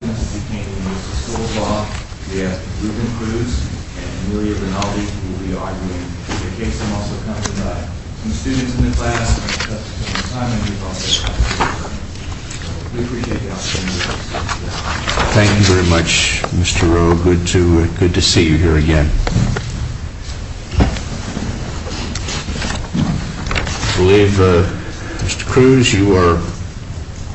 Thank you very much, Mr. Rowe. Good to see you here again. I believe, Mr. Cruz, you are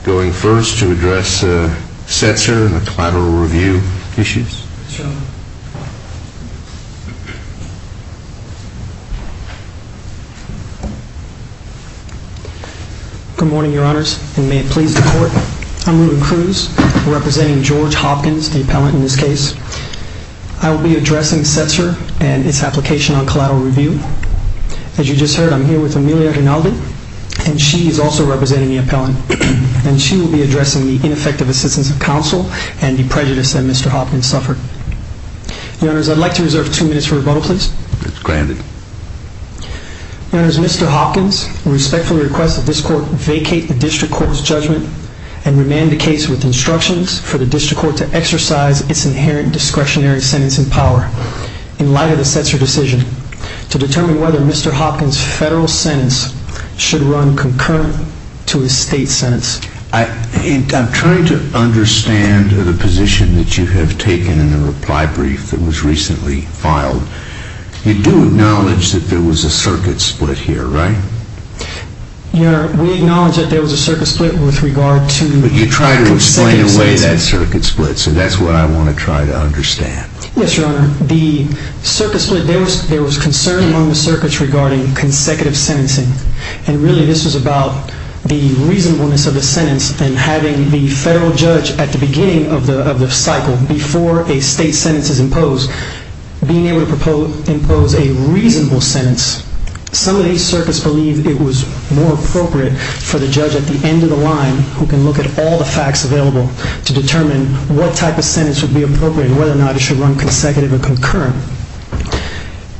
going first to address Setzer and the collateral review issues. Good morning, Your Honors, and may it please the Court. I'm Reuben Cruz, representing George Hopkins, the appellant in this case. I will be addressing Setzer and its application on collateral review. As you just heard, I'm here with Amelia Rinaldi, and she is also representing the appellant. And she will be addressing the ineffective assistance of counsel and the prejudice that Mr. Hopkins suffered. Your Honors, I'd like to reserve two minutes for rebuttal, please. It's granted. Your Honors, Mr. Hopkins respectfully requests that this Court vacate the District Court's judgment and remand the case with instructions for the District Court to exercise its inherent discretionary sentence in power. In light of the Setzer decision, to determine whether Mr. Hopkins' federal sentence should run concurrent to his state sentence. I'm trying to understand the position that you have taken in the reply brief that was recently filed. You do acknowledge that there was a circuit split here, right? Your Honor, we acknowledge that there was a circuit split with regard to consecutive sentencing. But you tried to explain away that circuit split, so that's what I want to try to understand. Yes, Your Honor. The circuit split, there was concern among the circuits regarding consecutive sentencing. And really this was about the reasonableness of the sentence and having the federal judge at the beginning of the cycle, before a state sentence is imposed, being able to impose a reasonable sentence. Some of these circuits believe it was more appropriate for the judge at the end of the line, who can look at all the facts available, to determine what type of sentence would be appropriate and whether or not it should run consecutive or concurrent.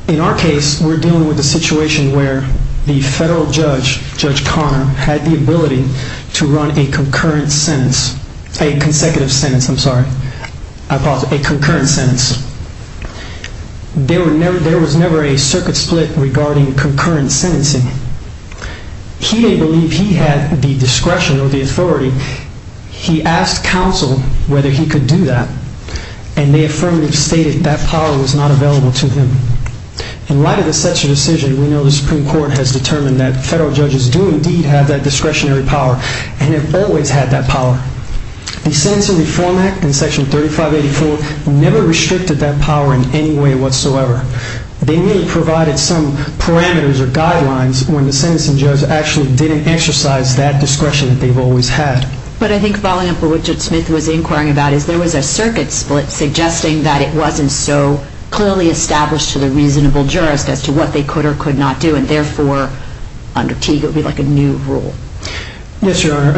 In our case, we're dealing with a situation where the federal judge, Judge Conner, had the ability to run a concurrent sentence, a consecutive sentence, I'm sorry, a concurrent sentence. There was never a circuit split regarding concurrent sentencing. He didn't believe he had the discretion or the authority. He asked counsel whether he could do that, and the affirmative stated that power was not available to him. In light of such a decision, we know the Supreme Court has determined that federal judges do indeed have that discretionary power, and have always had that power. The Sentencing Reform Act and Section 3584 never restricted that power in any way whatsoever. They merely provided some parameters or guidelines when the sentencing judge actually didn't exercise that discretion that they've always had. But I think following up on what Judge Smith was inquiring about is there was a circuit split suggesting that it wasn't so clearly established to the reasonable jurist as to what they could or could not do, and therefore, under Teague, it would be like a new rule. Yes, Your Honor.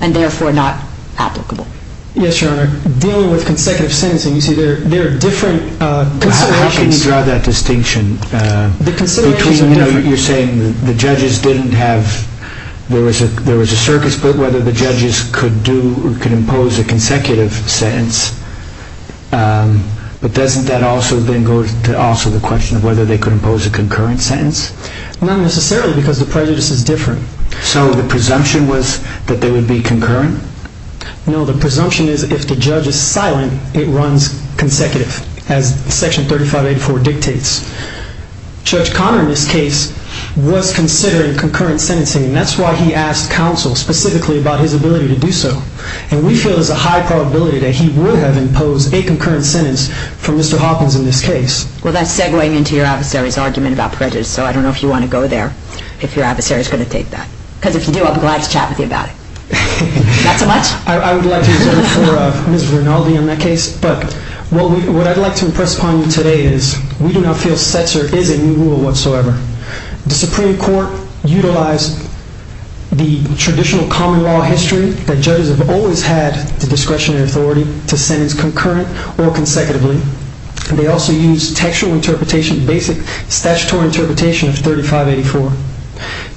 And therefore, not applicable. Yes, Your Honor. Dealing with consecutive sentencing, you see, there are different considerations. How can you draw that distinction between, you know, you're saying the judges didn't have, there was a circuit split whether the judges could do or could impose a consecutive sentence, but doesn't that also then go to also the question of whether they could impose a concurrent sentence? Not necessarily, because the prejudice is different. So the presumption was that they would be concurrent? No, the presumption is if the judge is silent, it runs consecutive, as Section 3584 dictates. Judge Conner in this case was considering concurrent sentencing, and that's why he asked counsel specifically about his ability to do so. And we feel there's a high probability that he would have imposed a concurrent sentence for Mr. Hopkins in this case. Well, that's segwaying into your adversary's argument about prejudice, so I don't know if you want to go there, if your adversary is going to take that. Because if you do, I'll be glad to chat with you about it. Not so much? I would like to, for Ms. Vernaldi in that case, but what I'd like to impress upon you today is we do not feel Cesar is a new rule whatsoever. The Supreme Court utilized the traditional common law history that judges have always had the discretion and authority to sentence concurrent or consecutively. They also used textual interpretation, basic statutory interpretation of 3584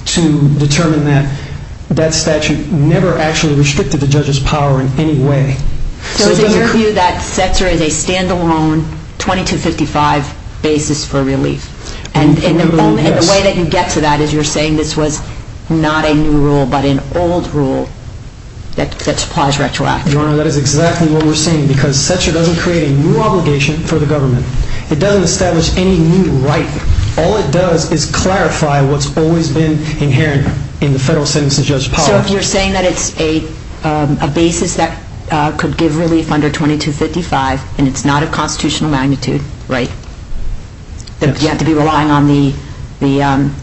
to determine that that statute never actually restricted the judge's power in any way. So is it your view that Cesar is a stand-alone 2255 basis for relief? And the way that you get to that is you're saying this was not a new rule but an old rule that supplies retroactive. Your Honor, that is exactly what we're saying, because Cesar doesn't create a new obligation for the government. It doesn't establish any new right. All it does is clarify what's always been inherent in the federal sentencing judge's power. So if you're saying that it's a basis that could give relief under 2255 and it's not of constitutional magnitude, right, that you have to be relying on the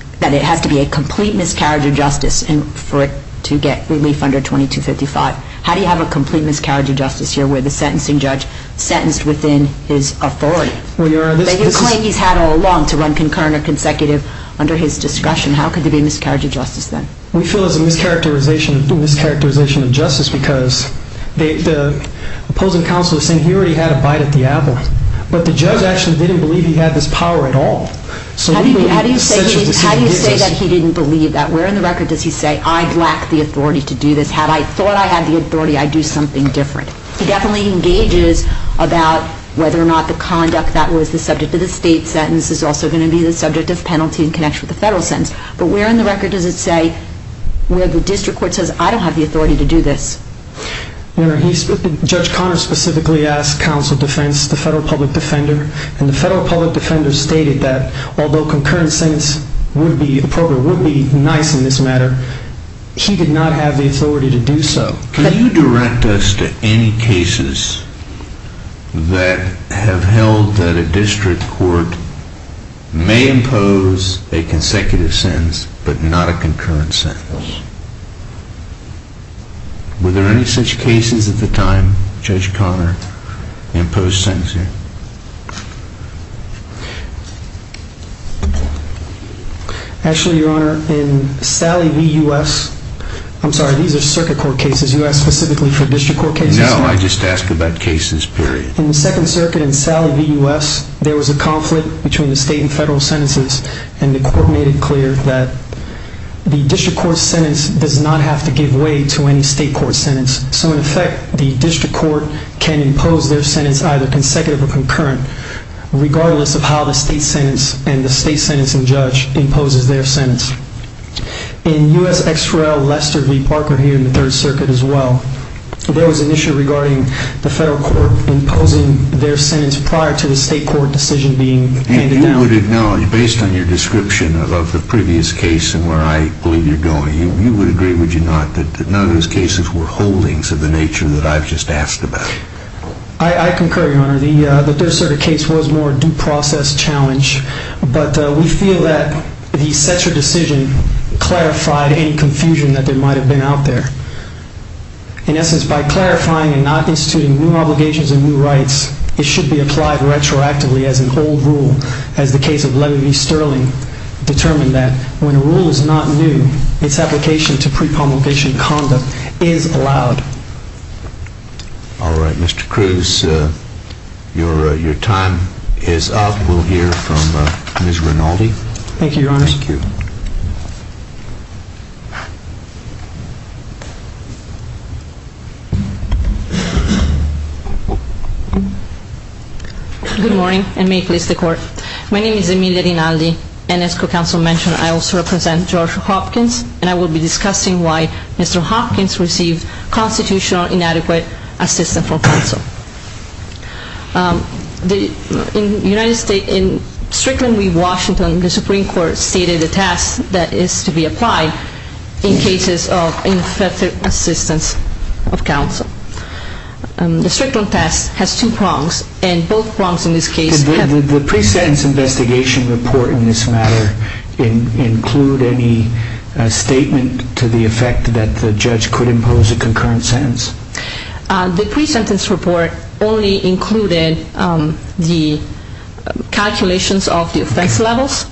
– that it has to be a complete miscarriage of justice for it to get relief under 2255. But how do you have a complete miscarriage of justice here where the sentencing judge sentenced within his authority? The claim he's had all along to run concurrent or consecutive under his discretion, how could there be a miscarriage of justice then? We feel it's a mischaracterization of justice because the opposing counsel is saying he already had a bite at the apple. But the judge actually didn't believe he had this power at all. How do you say that he didn't believe that? Where in the record does he say, I lack the authority to do this? Had I thought I had the authority, I'd do something different. He definitely engages about whether or not the conduct that was the subject of the state sentence is also going to be the subject of penalty in connection with the federal sentence. But where in the record does it say, where the district court says, I don't have the authority to do this? Judge Conner specifically asked counsel defense, the federal public defender, and the federal public defender stated that although concurrent sentence would be appropriate, would be nice in this matter, he did not have the authority to do so. Can you direct us to any cases that have held that a district court may impose a consecutive sentence but not a concurrent sentence? Were there any such cases at the time Judge Conner imposed sentencing? Actually, your honor, in Sally v. U.S., I'm sorry, these are circuit court cases. You asked specifically for district court cases? No, I just asked about cases, period. In the second circuit in Sally v. U.S., there was a conflict between the state and federal sentences, and the court made it clear that the district court sentence does not have to give way to any state court sentence. So in effect, the district court can impose their sentence either consecutive or concurrent, regardless of how the state sentence and the state sentencing judge imposes their sentence. In U.S. XRL Lester v. Parker here in the third circuit as well, there was an issue regarding the federal court imposing their sentence prior to the state court decision being handed down. And you would acknowledge, based on your description of the previous case and where I believe you're going, you would agree, would you not, that none of those cases were holdings of the nature that I've just asked about? I concur, your honor. The third circuit case was more a due process challenge, but we feel that the Setzer decision clarified any confusion that there might have been out there. In essence, by clarifying and not instituting new obligations and new rights, it should be applied retroactively as an old rule, as the case of Levy v. Sterling determined that when a rule is not new, its application to pre-promulgation conduct is allowed. All right, Mr. Cruz, your time is up. We'll hear from Ms. Rinaldi. Thank you, your honor. Thank you. Good morning, and may it please the court. My name is Emilia Rinaldi, and as co-counsel mentioned, I also represent George Hopkins, and I will be discussing why Mr. Hopkins received constitutional inadequate assistance from counsel. In the United States, in Strickland v. Washington, the Supreme Court stated a task that is to be applied in cases of ineffective assistance of counsel. The Strickland task has two prongs, and both prongs in this case have… Did the pre-sentence investigation report in this matter include any statement to the effect that the judge could impose a concurrent sentence? The pre-sentence report only included the calculations of the offense levels.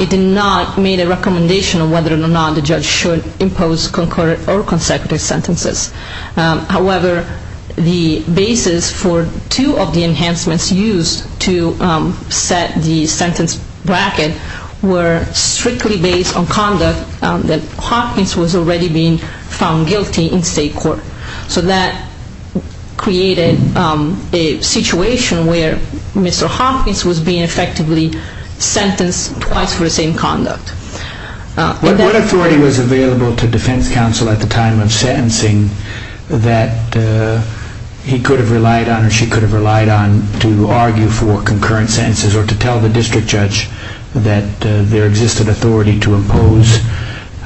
It did not make a recommendation on whether or not the judge should impose concurrent or consecutive sentences. However, the basis for two of the enhancements used to set the sentence bracket were strictly based on conduct that Hopkins was already being found guilty in state court. So that created a situation where Mr. Hopkins was being effectively sentenced twice for the same conduct. What authority was available to defense counsel at the time of sentencing that he could have relied on or she could have relied on to argue for concurrent sentences or to tell the district judge that there existed authority to impose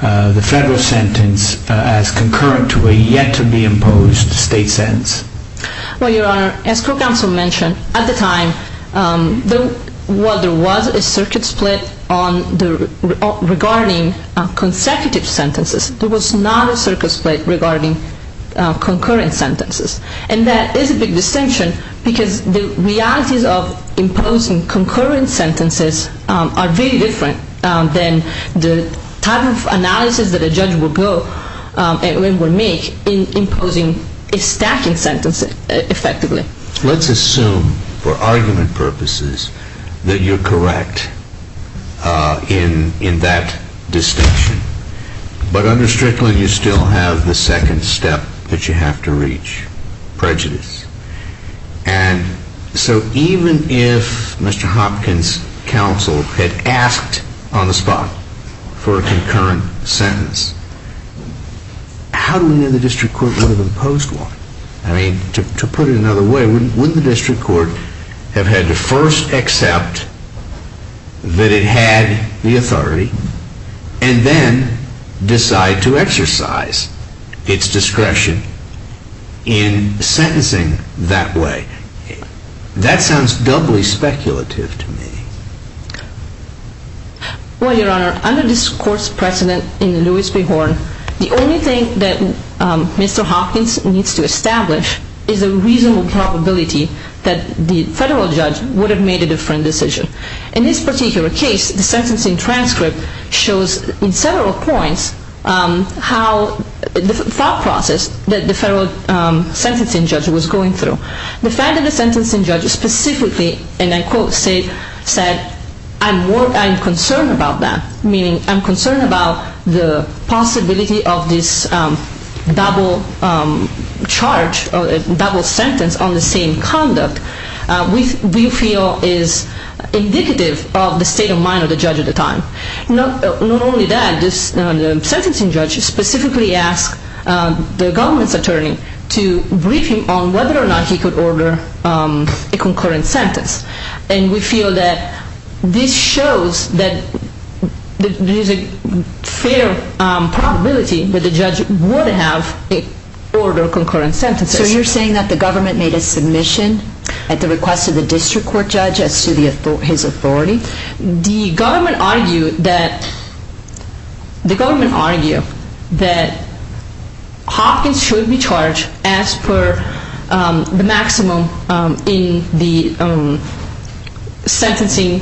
the federal sentence as concurrent to a yet-to-be-imposed state sentence? Well, Your Honor, as court counsel mentioned at the time, while there was a circuit split regarding consecutive sentences, there was not a circuit split regarding concurrent sentences. And that is a big distinction because the realities of imposing concurrent sentences are very different than the type of analysis that a judge would make in imposing a stacking sentence effectively. Let's assume, for argument purposes, that you're correct in that distinction. But under Strickland, you still have the second step that you have to reach, prejudice. And so even if Mr. Hopkins' counsel had asked on the spot for a concurrent sentence, how do we know the district court would have imposed one? I mean, to put it another way, wouldn't the district court have had to first accept that it had the authority and then decide to exercise its discretion in sentencing that way? That sounds doubly speculative to me. Well, Your Honor, under this court's precedent in Lewis v. Horn, the only thing that Mr. Hopkins needs to establish is a reasonable probability that the federal judge would have made a different decision. In this particular case, the sentencing transcript shows in several points how the thought process that the federal sentencing judge was going through. The fact that the sentencing judge specifically, and I quote, said, I'm concerned about that, meaning I'm concerned about the possibility of this double charge, double sentence on the same conduct, we feel is indicative of the state of mind of the judge at the time. Not only that, the sentencing judge specifically asked the government's attorney to brief him on whether or not he could order a concurrent sentence. And we feel that this shows that there is a fair probability that the judge would have ordered concurrent sentences. So you're saying that the government made a submission at the request of the district court judge as to his authority? The government argued that Hopkins should be charged as per the maximum in the sentencing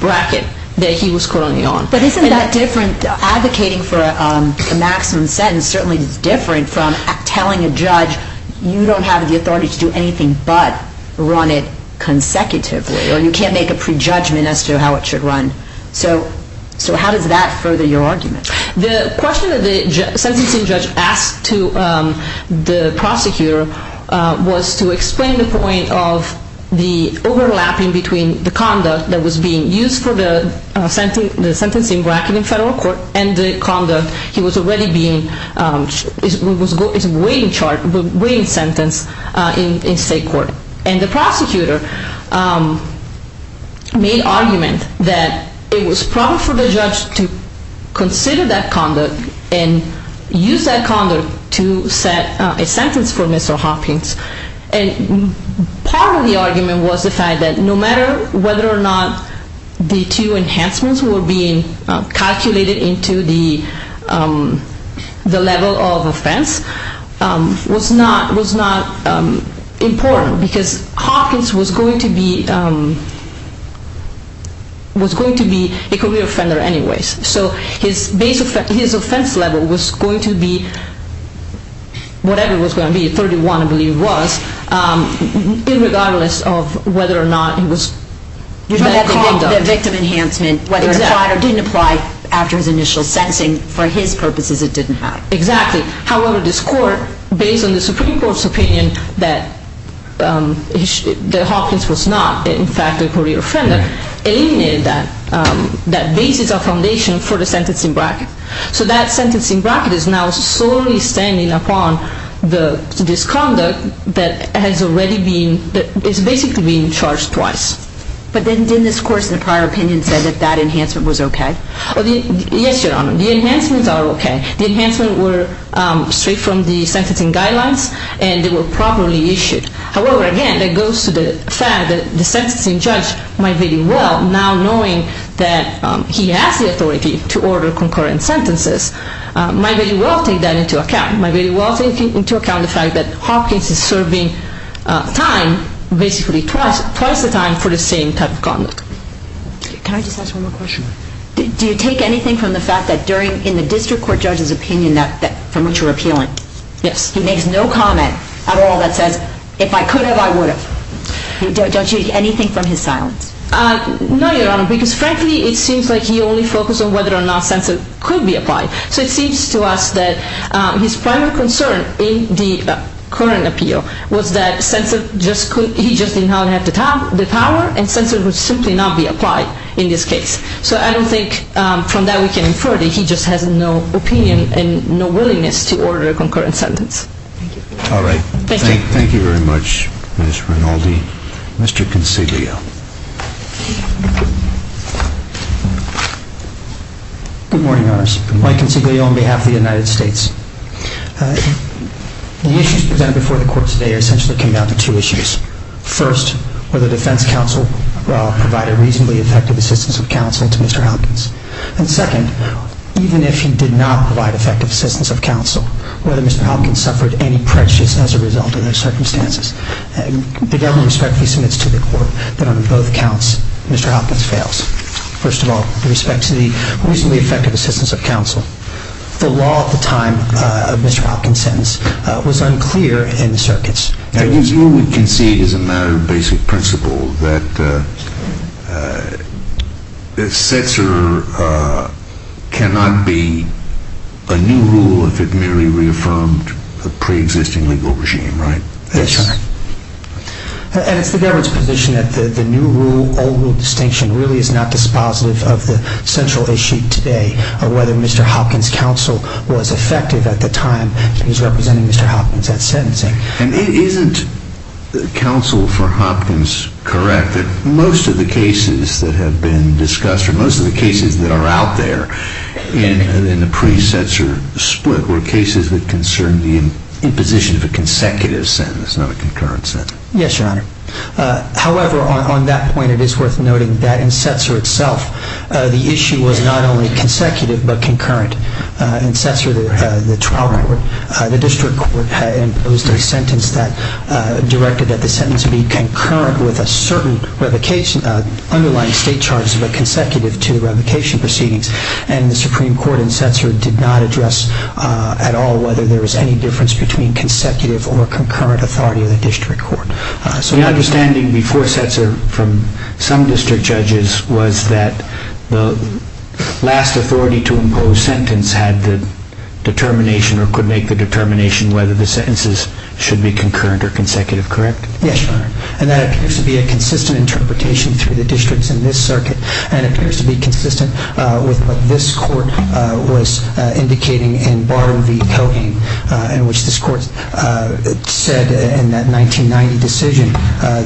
bracket that he was currently on. But isn't that different, advocating for a maximum sentence certainly is different from telling a judge you don't have the authority to do anything but run it consecutively? Or you can't make a prejudgment as to how it should run. So how does that further your argument? The question that the sentencing judge asked the prosecutor was to explain the point of the overlapping between the conduct that was being used for the sentencing bracket in federal court and the conduct he was already being, his waiting sentence in state court. And the prosecutor made argument that it was proper for the judge to consider that conduct and use that conduct to set a sentence for Mr. Hopkins. And part of the argument was the fact that no matter whether or not the two enhancements were being calculated into the level of offense was not important because Hopkins was going to be a career offender anyways. So his offense level was going to be whatever it was going to be, 31 I believe it was, regardless of whether or not it was better conduct. The victim enhancement, whether it applied or didn't apply after his initial sentencing, for his purposes it didn't matter. Exactly. However, this court, based on the Supreme Court's opinion that Hopkins was not, in fact, a career offender, eliminated that basis of foundation for the sentencing bracket. So that sentencing bracket is now solely standing upon the disconduct that is basically being charged twice. But then didn't this court, in the prior opinion, say that that enhancement was OK? Yes, Your Honor. The enhancements are OK. The enhancements were straight from the sentencing guidelines and they were properly issued. However, again, that goes to the fact that the sentencing judge might very well, now knowing that he has the authority to order concurrent sentences, might very well take that into account. Might very well take into account the fact that Hopkins is serving time, basically twice, twice the time for the same type of conduct. Can I just ask one more question? Do you take anything from the fact that in the district court judge's opinion from which you're appealing? Yes. He makes no comment at all that says, if I could have, I would have. Don't you take anything from his silence? No, Your Honor, because frankly, it seems like he only focused on whether or not census could be applied. So it seems to us that his primary concern in the current appeal was that he just did not have the power and census would simply not be applied in this case. So I don't think from that we can infer that he just has no opinion and no willingness to order a concurrent sentence. All right. Thank you. Thank you very much, Ms. Rinaldi. Mr. Consiglio. Good morning, Your Honors. Mike Consiglio on behalf of the United States. The issues presented before the court today are essentially compounded to two issues. First, whether the defense counsel provided reasonably effective assistance of counsel to Mr. Hopkins. And second, even if he did not provide effective assistance of counsel, whether Mr. Hopkins suffered any prejudice as a result of those circumstances. The government respectfully submits to the court that on both counts, Mr. Hopkins fails. First of all, with respect to the reasonably effective assistance of counsel, the law at the time of Mr. Hopkins' sentence was unclear in the circuits. I guess you would concede as a matter of basic principle that a censor cannot be a new rule if it merely reaffirmed a preexisting legal regime, right? That's right. And it's the government's position that the new rule, old rule distinction really is not dispositive of the central issue today of whether Mr. Hopkins' counsel was effective at the time he was representing Mr. Hopkins at sentencing. And isn't counsel for Hopkins correct that most of the cases that have been discussed or most of the cases that are out there in the pre-censor split were cases that concerned the imposition of a consecutive sentence, not a concurrent sentence? Yes, Your Honor. However, on that point, it is worth noting that in Setzer itself, the issue was not only consecutive but concurrent. In Setzer, the trial court, the district court imposed a sentence that directed that the sentence be concurrent with a certain underlying state charges but consecutive to the revocation proceedings. And the Supreme Court in Setzer did not address at all whether there was any difference between consecutive or concurrent authority of the district court. The understanding before Setzer from some district judges was that the last authority to impose sentence had the determination or could make the determination whether the sentences should be concurrent or consecutive, correct? And that appears to be a consistent interpretation through the districts in this circuit and appears to be consistent with what this court was indicating in Bar v. Cogain, in which this court said in that 1990 decision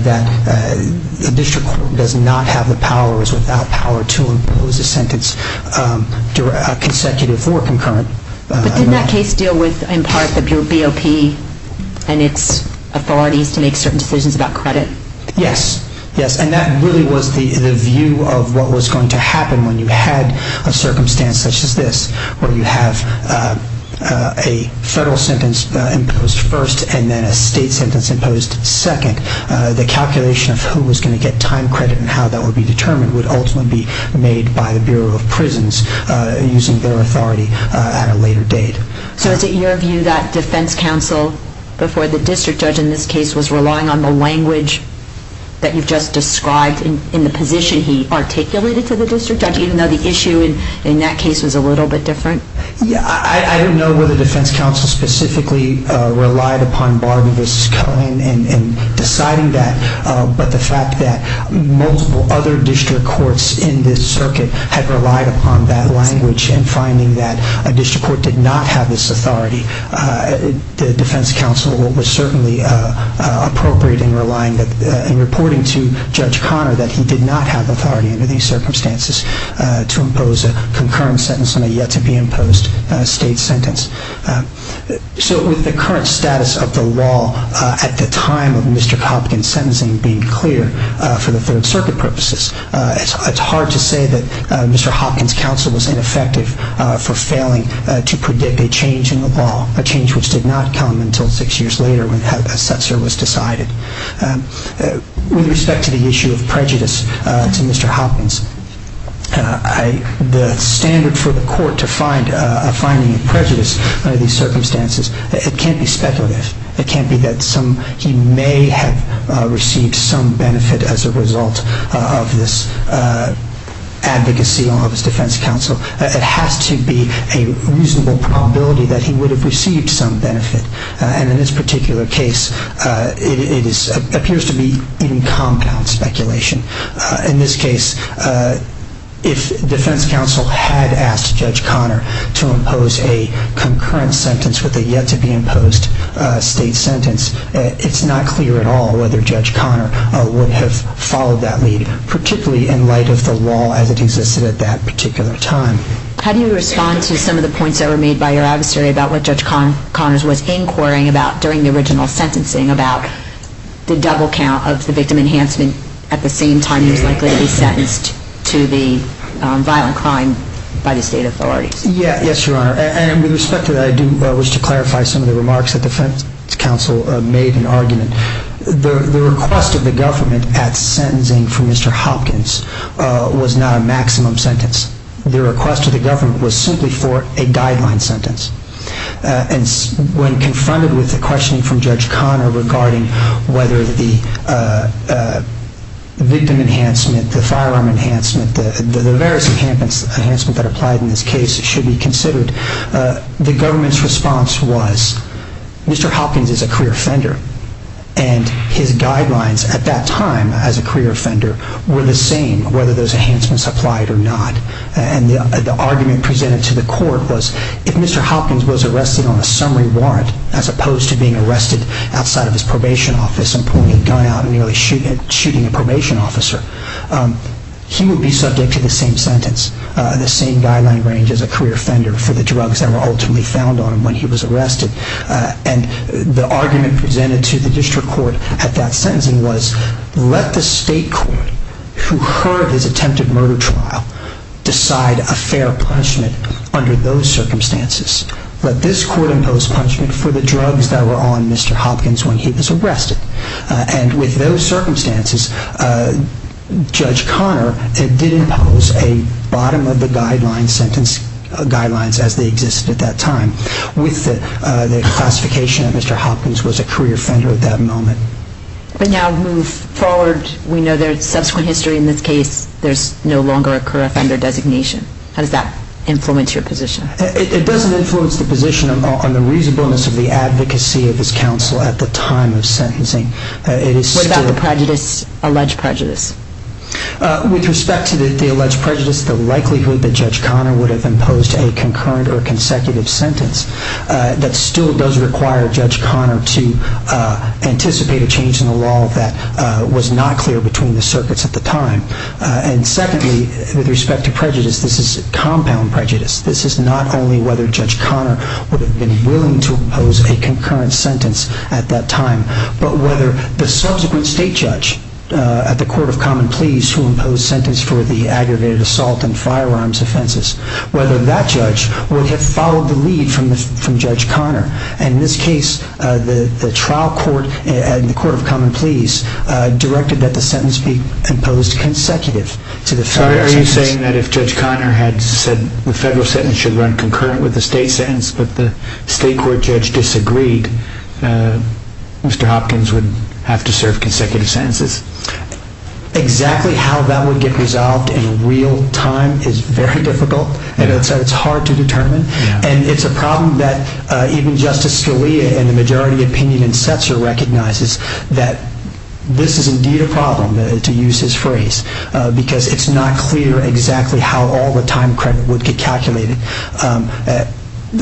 that the district court does not have the powers without power to impose a sentence consecutive or concurrent. But didn't that case deal with, in part, the BOP and its authorities to make certain decisions about credit? Yes. Yes. And that really was the view of what was going to happen when you had a circumstance such as this, where you have a federal sentence imposed first and then a state sentence imposed second. The calculation of who was going to get time credit and how that would be determined would ultimately be made by the Bureau of Prisons using their authority at a later date. So is it your view that defense counsel before the district judge in this case was relying on the language that you've just described in the position he articulated to the district judge, even though the issue in that case was a little bit different? I don't know whether defense counsel specifically relied upon Bar v. Cogain in deciding that, but the fact that multiple other district courts in this circuit had relied upon that language and finding that a district court did not have this authority, the defense counsel was certainly appropriate in reporting to Judge Conner that he did not have authority under these circumstances to impose a concurrent sentence on a yet-to-be-imposed sentence. So with the current status of the law at the time of Mr. Hopkins' sentencing being clear for the Third Circuit purposes, it's hard to say that Mr. Hopkins' counsel was ineffective for failing to predict a change in the law, a change which did not come until six years later when a set service was decided. With respect to the issue of prejudice to Mr. Hopkins, the standard for the court to find a finding of prejudice under these circumstances, it can't be speculative. It can't be that he may have received some benefit as a result of this advocacy of his defense counsel. It has to be a reasonable probability that he would have received some benefit, and in this particular case, it appears to be in compound speculation. In this case, if defense counsel had asked Judge Conner to impose a concurrent sentence with a yet-to-be-imposed state sentence, it's not clear at all whether Judge Conner would have followed that lead, particularly in light of the law as it existed at that particular time. How do you respond to some of the points that were made by your adversary about what Judge Conner was inquiring about during the original sentencing, about the double count of the victim enhancement at the same time he was likely to be sentenced to the violent crime by the state authorities? Yes, Your Honor, and with respect to that, I do wish to clarify some of the remarks that defense counsel made in argument. The request of the government at sentencing for Mr. Hopkins was not a maximum sentence. The request of the government was simply for a guideline sentence, and when confronted with the questioning from Judge Conner regarding whether the victim enhancement, the firearm enhancement, the various enhancements that applied in this case should be considered, the government's response was Mr. Hopkins is a career offender, and his guidelines at that time as a career offender were the same whether those enhancements applied or not. And the argument presented to the court was if Mr. Hopkins was arrested on a summary warrant as opposed to being arrested outside of his probation office and pulling a gun out and nearly shooting a probation officer, he would be subject to the same sentence, the same guideline range as a career offender for the drugs that were ultimately found on him when he was arrested. And the argument presented to the district court at that sentencing was let the state court, who heard his attempted murder trial, decide a fair punishment under those circumstances. Let this court impose punishment for the drugs that were on Mr. Hopkins when he was arrested. And with those circumstances, Judge Conner did impose a bottom-of-the-guideline sentence guidelines as they existed at that time with the classification that Mr. Hopkins was a career offender at that moment. But now move forward. We know there's subsequent history in this case. There's no longer a career offender designation. How does that influence your position? It doesn't influence the position on the reasonableness of the advocacy of this counsel at the time of sentencing. What about the prejudice, alleged prejudice? With respect to the alleged prejudice, the likelihood that Judge Conner would have imposed a concurrent or consecutive sentence, that still does require Judge Conner to anticipate a change in the law that was not clear between the circuits at the time. And secondly, with respect to prejudice, this is compound prejudice. This is not only whether Judge Conner would have been willing to impose a concurrent sentence at that time, but whether the subsequent state judge at the Court of Common Pleas who imposed sentence for the aggravated assault and firearms offenses, whether that judge would have followed the lead from Judge Conner. And in this case, the trial court and the Court of Common Pleas directed that the sentence be imposed consecutive to the federal sentence. Are you saying that if Judge Conner had said the federal sentence should run concurrent with the state sentence, but the state court judge disagreed, Mr. Hopkins would have to serve consecutive sentences? Exactly how that would get resolved in real time is very difficult. It's hard to determine. And it's a problem that even Justice Scalia and the majority opinion in Setzer recognizes that this is indeed a problem, to use his phrase, because it's not clear exactly how all the time credit would get calculated.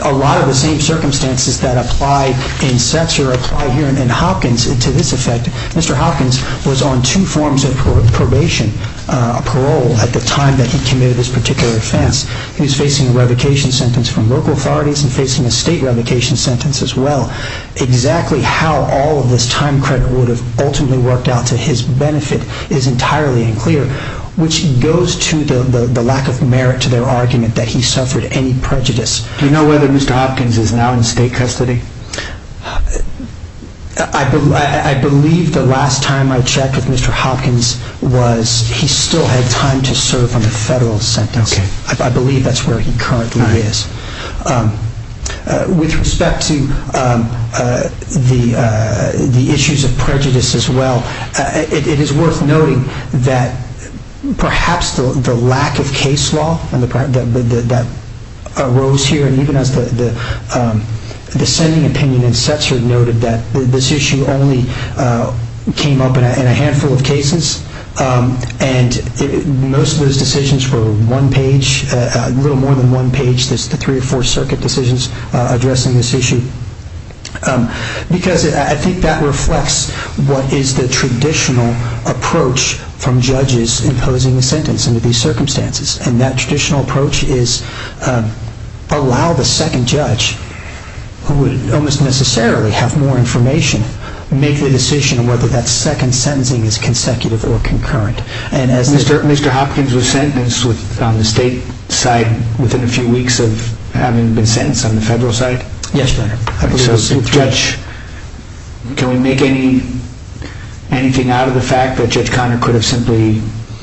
A lot of the same circumstances that apply in Setzer apply here in Hopkins to this effect. Mr. Hopkins was on two forms of probation, parole, at the time that he committed this particular offense. He was facing a revocation sentence from local authorities and facing a state revocation sentence as well. Exactly how all of this time credit would have ultimately worked out to his benefit is entirely unclear, which goes to the lack of merit to their argument that he suffered any prejudice. Do you know whether Mr. Hopkins is now in state custody? I believe the last time I checked with Mr. Hopkins was he still had time to serve on the federal sentence. I believe that's where he currently is. With respect to the issues of prejudice as well, it is worth noting that perhaps the lack of case law that arose here, and even as the sending opinion in Setzer noted that this issue only came up in a handful of cases, and most of those decisions were a little more than one page, the three or four circuit decisions addressing this issue, because I think that reflects what is the traditional approach from judges imposing a sentence under these circumstances. That traditional approach is allow the second judge, who would almost necessarily have more information, make the decision whether that second sentencing is consecutive or concurrent. Mr. Hopkins was sentenced on the state side within a few weeks of having been sentenced on the federal side? Yes, Your Honor. Can we make anything out of the fact that Judge Conner could have simply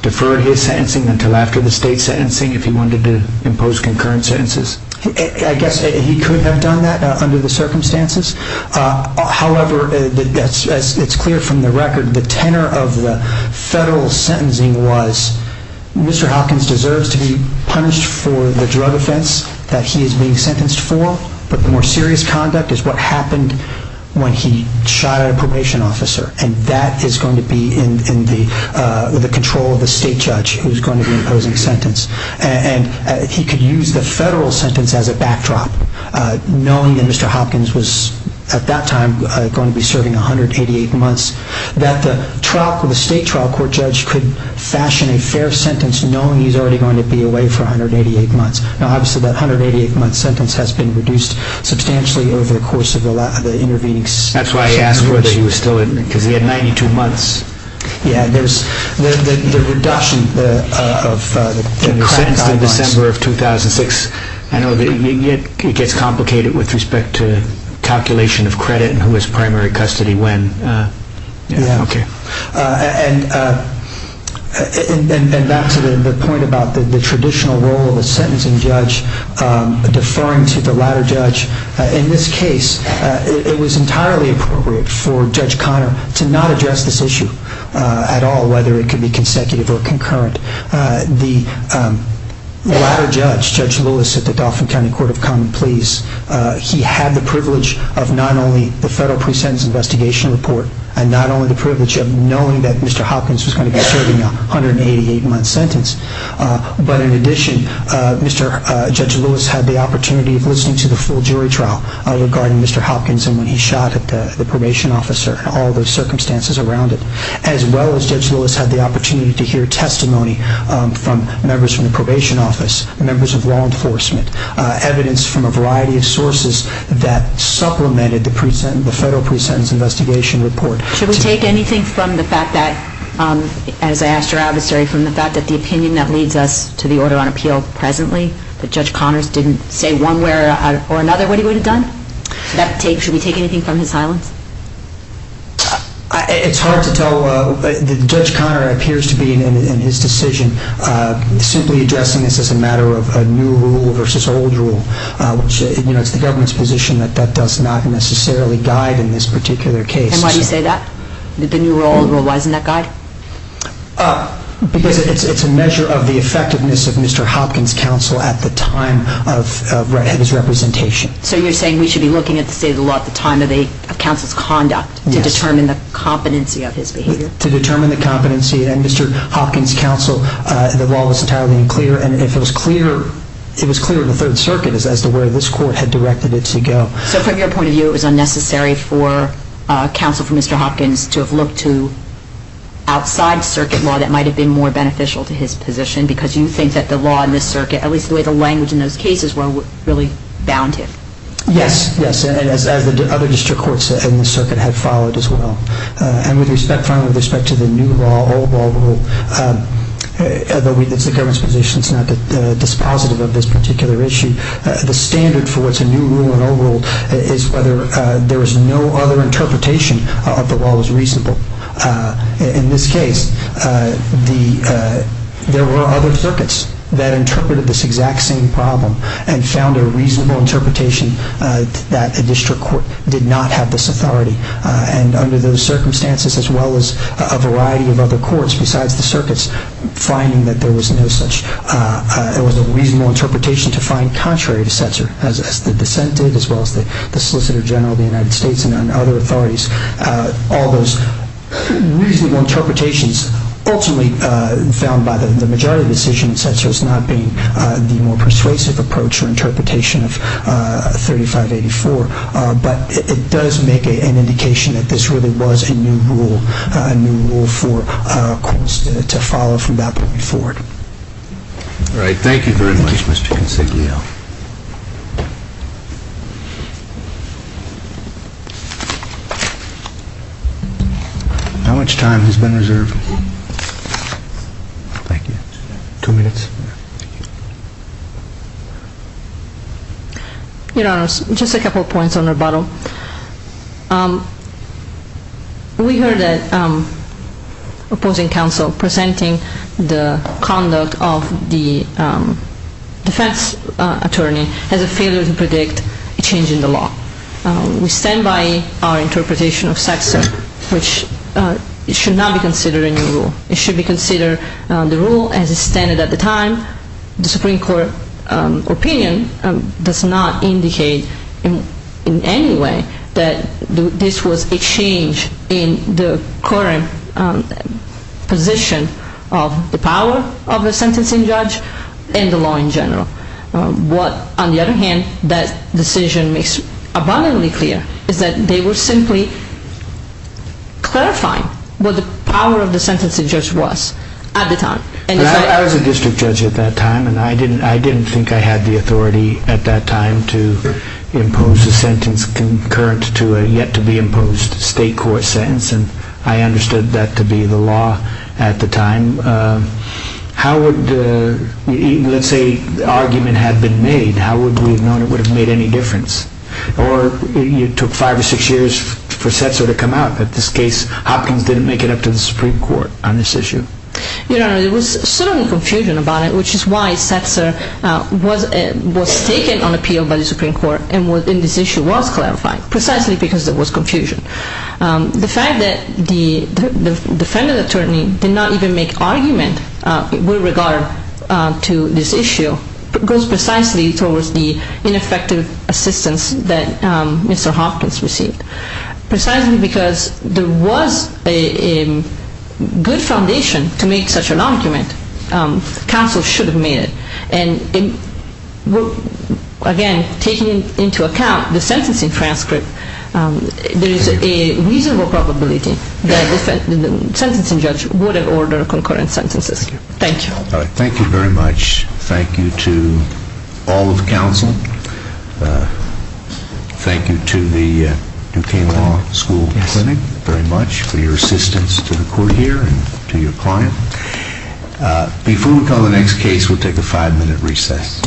deferred his sentencing until after the state sentencing if he wanted to impose concurrent sentences? I guess he could have done that under the circumstances. However, it's clear from the record that the tenor of the federal sentencing was, Mr. Hopkins deserves to be punished for the drug offense that he is being sentenced for, but the more serious conduct is what happened when he shot at a probation officer, and that is going to be in the control of the state judge who is going to be imposing the sentence. He could use the federal sentence as a backdrop, knowing that Mr. Hopkins was, at that time, going to be serving 188 months, that the state trial court judge could fashion a fair sentence knowing he's already going to be away for 188 months. Obviously, that 188-month sentence has been reduced substantially over the course of the intervening sessions. That's why he asked whether he was still in, because he had 92 months. Yeah, there's the reduction of the credit guidelines. You're sentenced in December of 2006. I know it gets complicated with respect to calculation of credit and who has primary custody when. Yeah. Okay. And back to the point about the traditional role of the sentencing judge deferring to the latter judge, in this case, it was entirely appropriate for Judge Conner to not address this issue at all, whether it could be consecutive or concurrent. The latter judge, Judge Lewis, at the Dauphin County Court of Common Pleas, he had the privilege of not only the federal pre-sentence investigation report and not only the privilege of knowing that Mr. Hopkins was going to be serving a 188-month sentence, but in addition, Judge Lewis had the opportunity of listening to the full jury trial regarding Mr. Hopkins and when he shot at the probation officer and all those circumstances around it, as well as Judge Lewis had the opportunity to hear testimony from members from the probation office, members of law enforcement, evidence from a variety of sources that supplemented the federal pre-sentence investigation report. Should we take anything from the fact that, as I asked your adversary, from the fact that the opinion that leads us to the order on appeal presently, that Judge Conner didn't say one way or another what he would have done? Should we take anything from his silence? It's hard to tell. Judge Conner appears to be, in his decision, simply addressing this as a matter of new rule versus old rule. It's the government's position that that does not necessarily guide in this particular case. And why do you say that? The new rule, why isn't that guide? Because it's a measure of the effectiveness of Mr. Hopkins' counsel at the time of his representation. So you're saying we should be looking at the state of the law at the time of counsel's conduct to determine the competency of his behavior? To determine the competency, and Mr. Hopkins' counsel, the law was entirely unclear, and it was clear in the Third Circuit as to where this court had directed it to go. So from your point of view, it was unnecessary for counsel for Mr. Hopkins to have looked to outside circuit law that might have been more beneficial to his position, because you think that the law in this circuit, at least the way the language in those cases were, really bound him? Yes, yes, as the other district courts in the circuit had followed as well. And with respect to the new law, old law rule, it's the government's position that it's not dispositive of this particular issue. The standard for what's a new rule and old rule is whether there was no other interpretation of the law was reasonable. In this case, there were other circuits that interpreted this exact same problem and found a reasonable interpretation that a district court did not have this authority. And under those circumstances, as well as a variety of other courts besides the circuits, finding that there was a reasonable interpretation to find contrary to Setzer, as the dissent did, as well as the Solicitor General of the United States and other authorities, all those reasonable interpretations ultimately found by the majority of the decision in Setzer as not being the more persuasive approach or interpretation of 3584. But it does make an indication that this really was a new rule for courts to follow from that point forward. All right. Thank you very much, Mr. Consiglio. How much time has been reserved? Thank you. Two minutes? Your Honor, just a couple of points on rebuttal. We heard that opposing counsel presenting the conduct of the defense attorney as a failure to predict a change in the law. We stand by our interpretation of Setzer, which should not be considered a new rule. It should be considered the rule as it standed at the time. The Supreme Court opinion does not indicate in any way that this was a change in the current position of the power of the sentencing judge and the law in general. What, on the other hand, that decision makes abundantly clear is that they were simply clarifying what the power of the sentencing judge was at the time. I was a district judge at that time, and I didn't think I had the authority at that time to impose a sentence concurrent to a yet-to-be-imposed state court sentence, and I understood that to be the law at the time. Let's say the argument had been made, how would we have known it would have made any difference? Or it took five or six years for Setzer to come out that this case, Hopkins, didn't make it up to the Supreme Court on this issue. Your Honor, there was some confusion about it, which is why Setzer was taken on appeal by the Supreme Court and this issue was clarified, precisely because there was confusion. The fact that the defendant attorney did not even make argument with regard to this issue goes precisely towards the ineffective assistance that Mr. Hopkins received. Precisely because there was a good foundation to make such an argument, counsel should have made it. And again, taking into account the sentencing transcript, there is a reasonable probability that the sentencing judge would have ordered concurrent sentences. Thank you. Thank you very much. Thank you to all of counsel. Thank you to the Duquesne Law School Clinic very much for your assistance to the court here and to your client. Before we call the next case, we'll take a five-minute recess.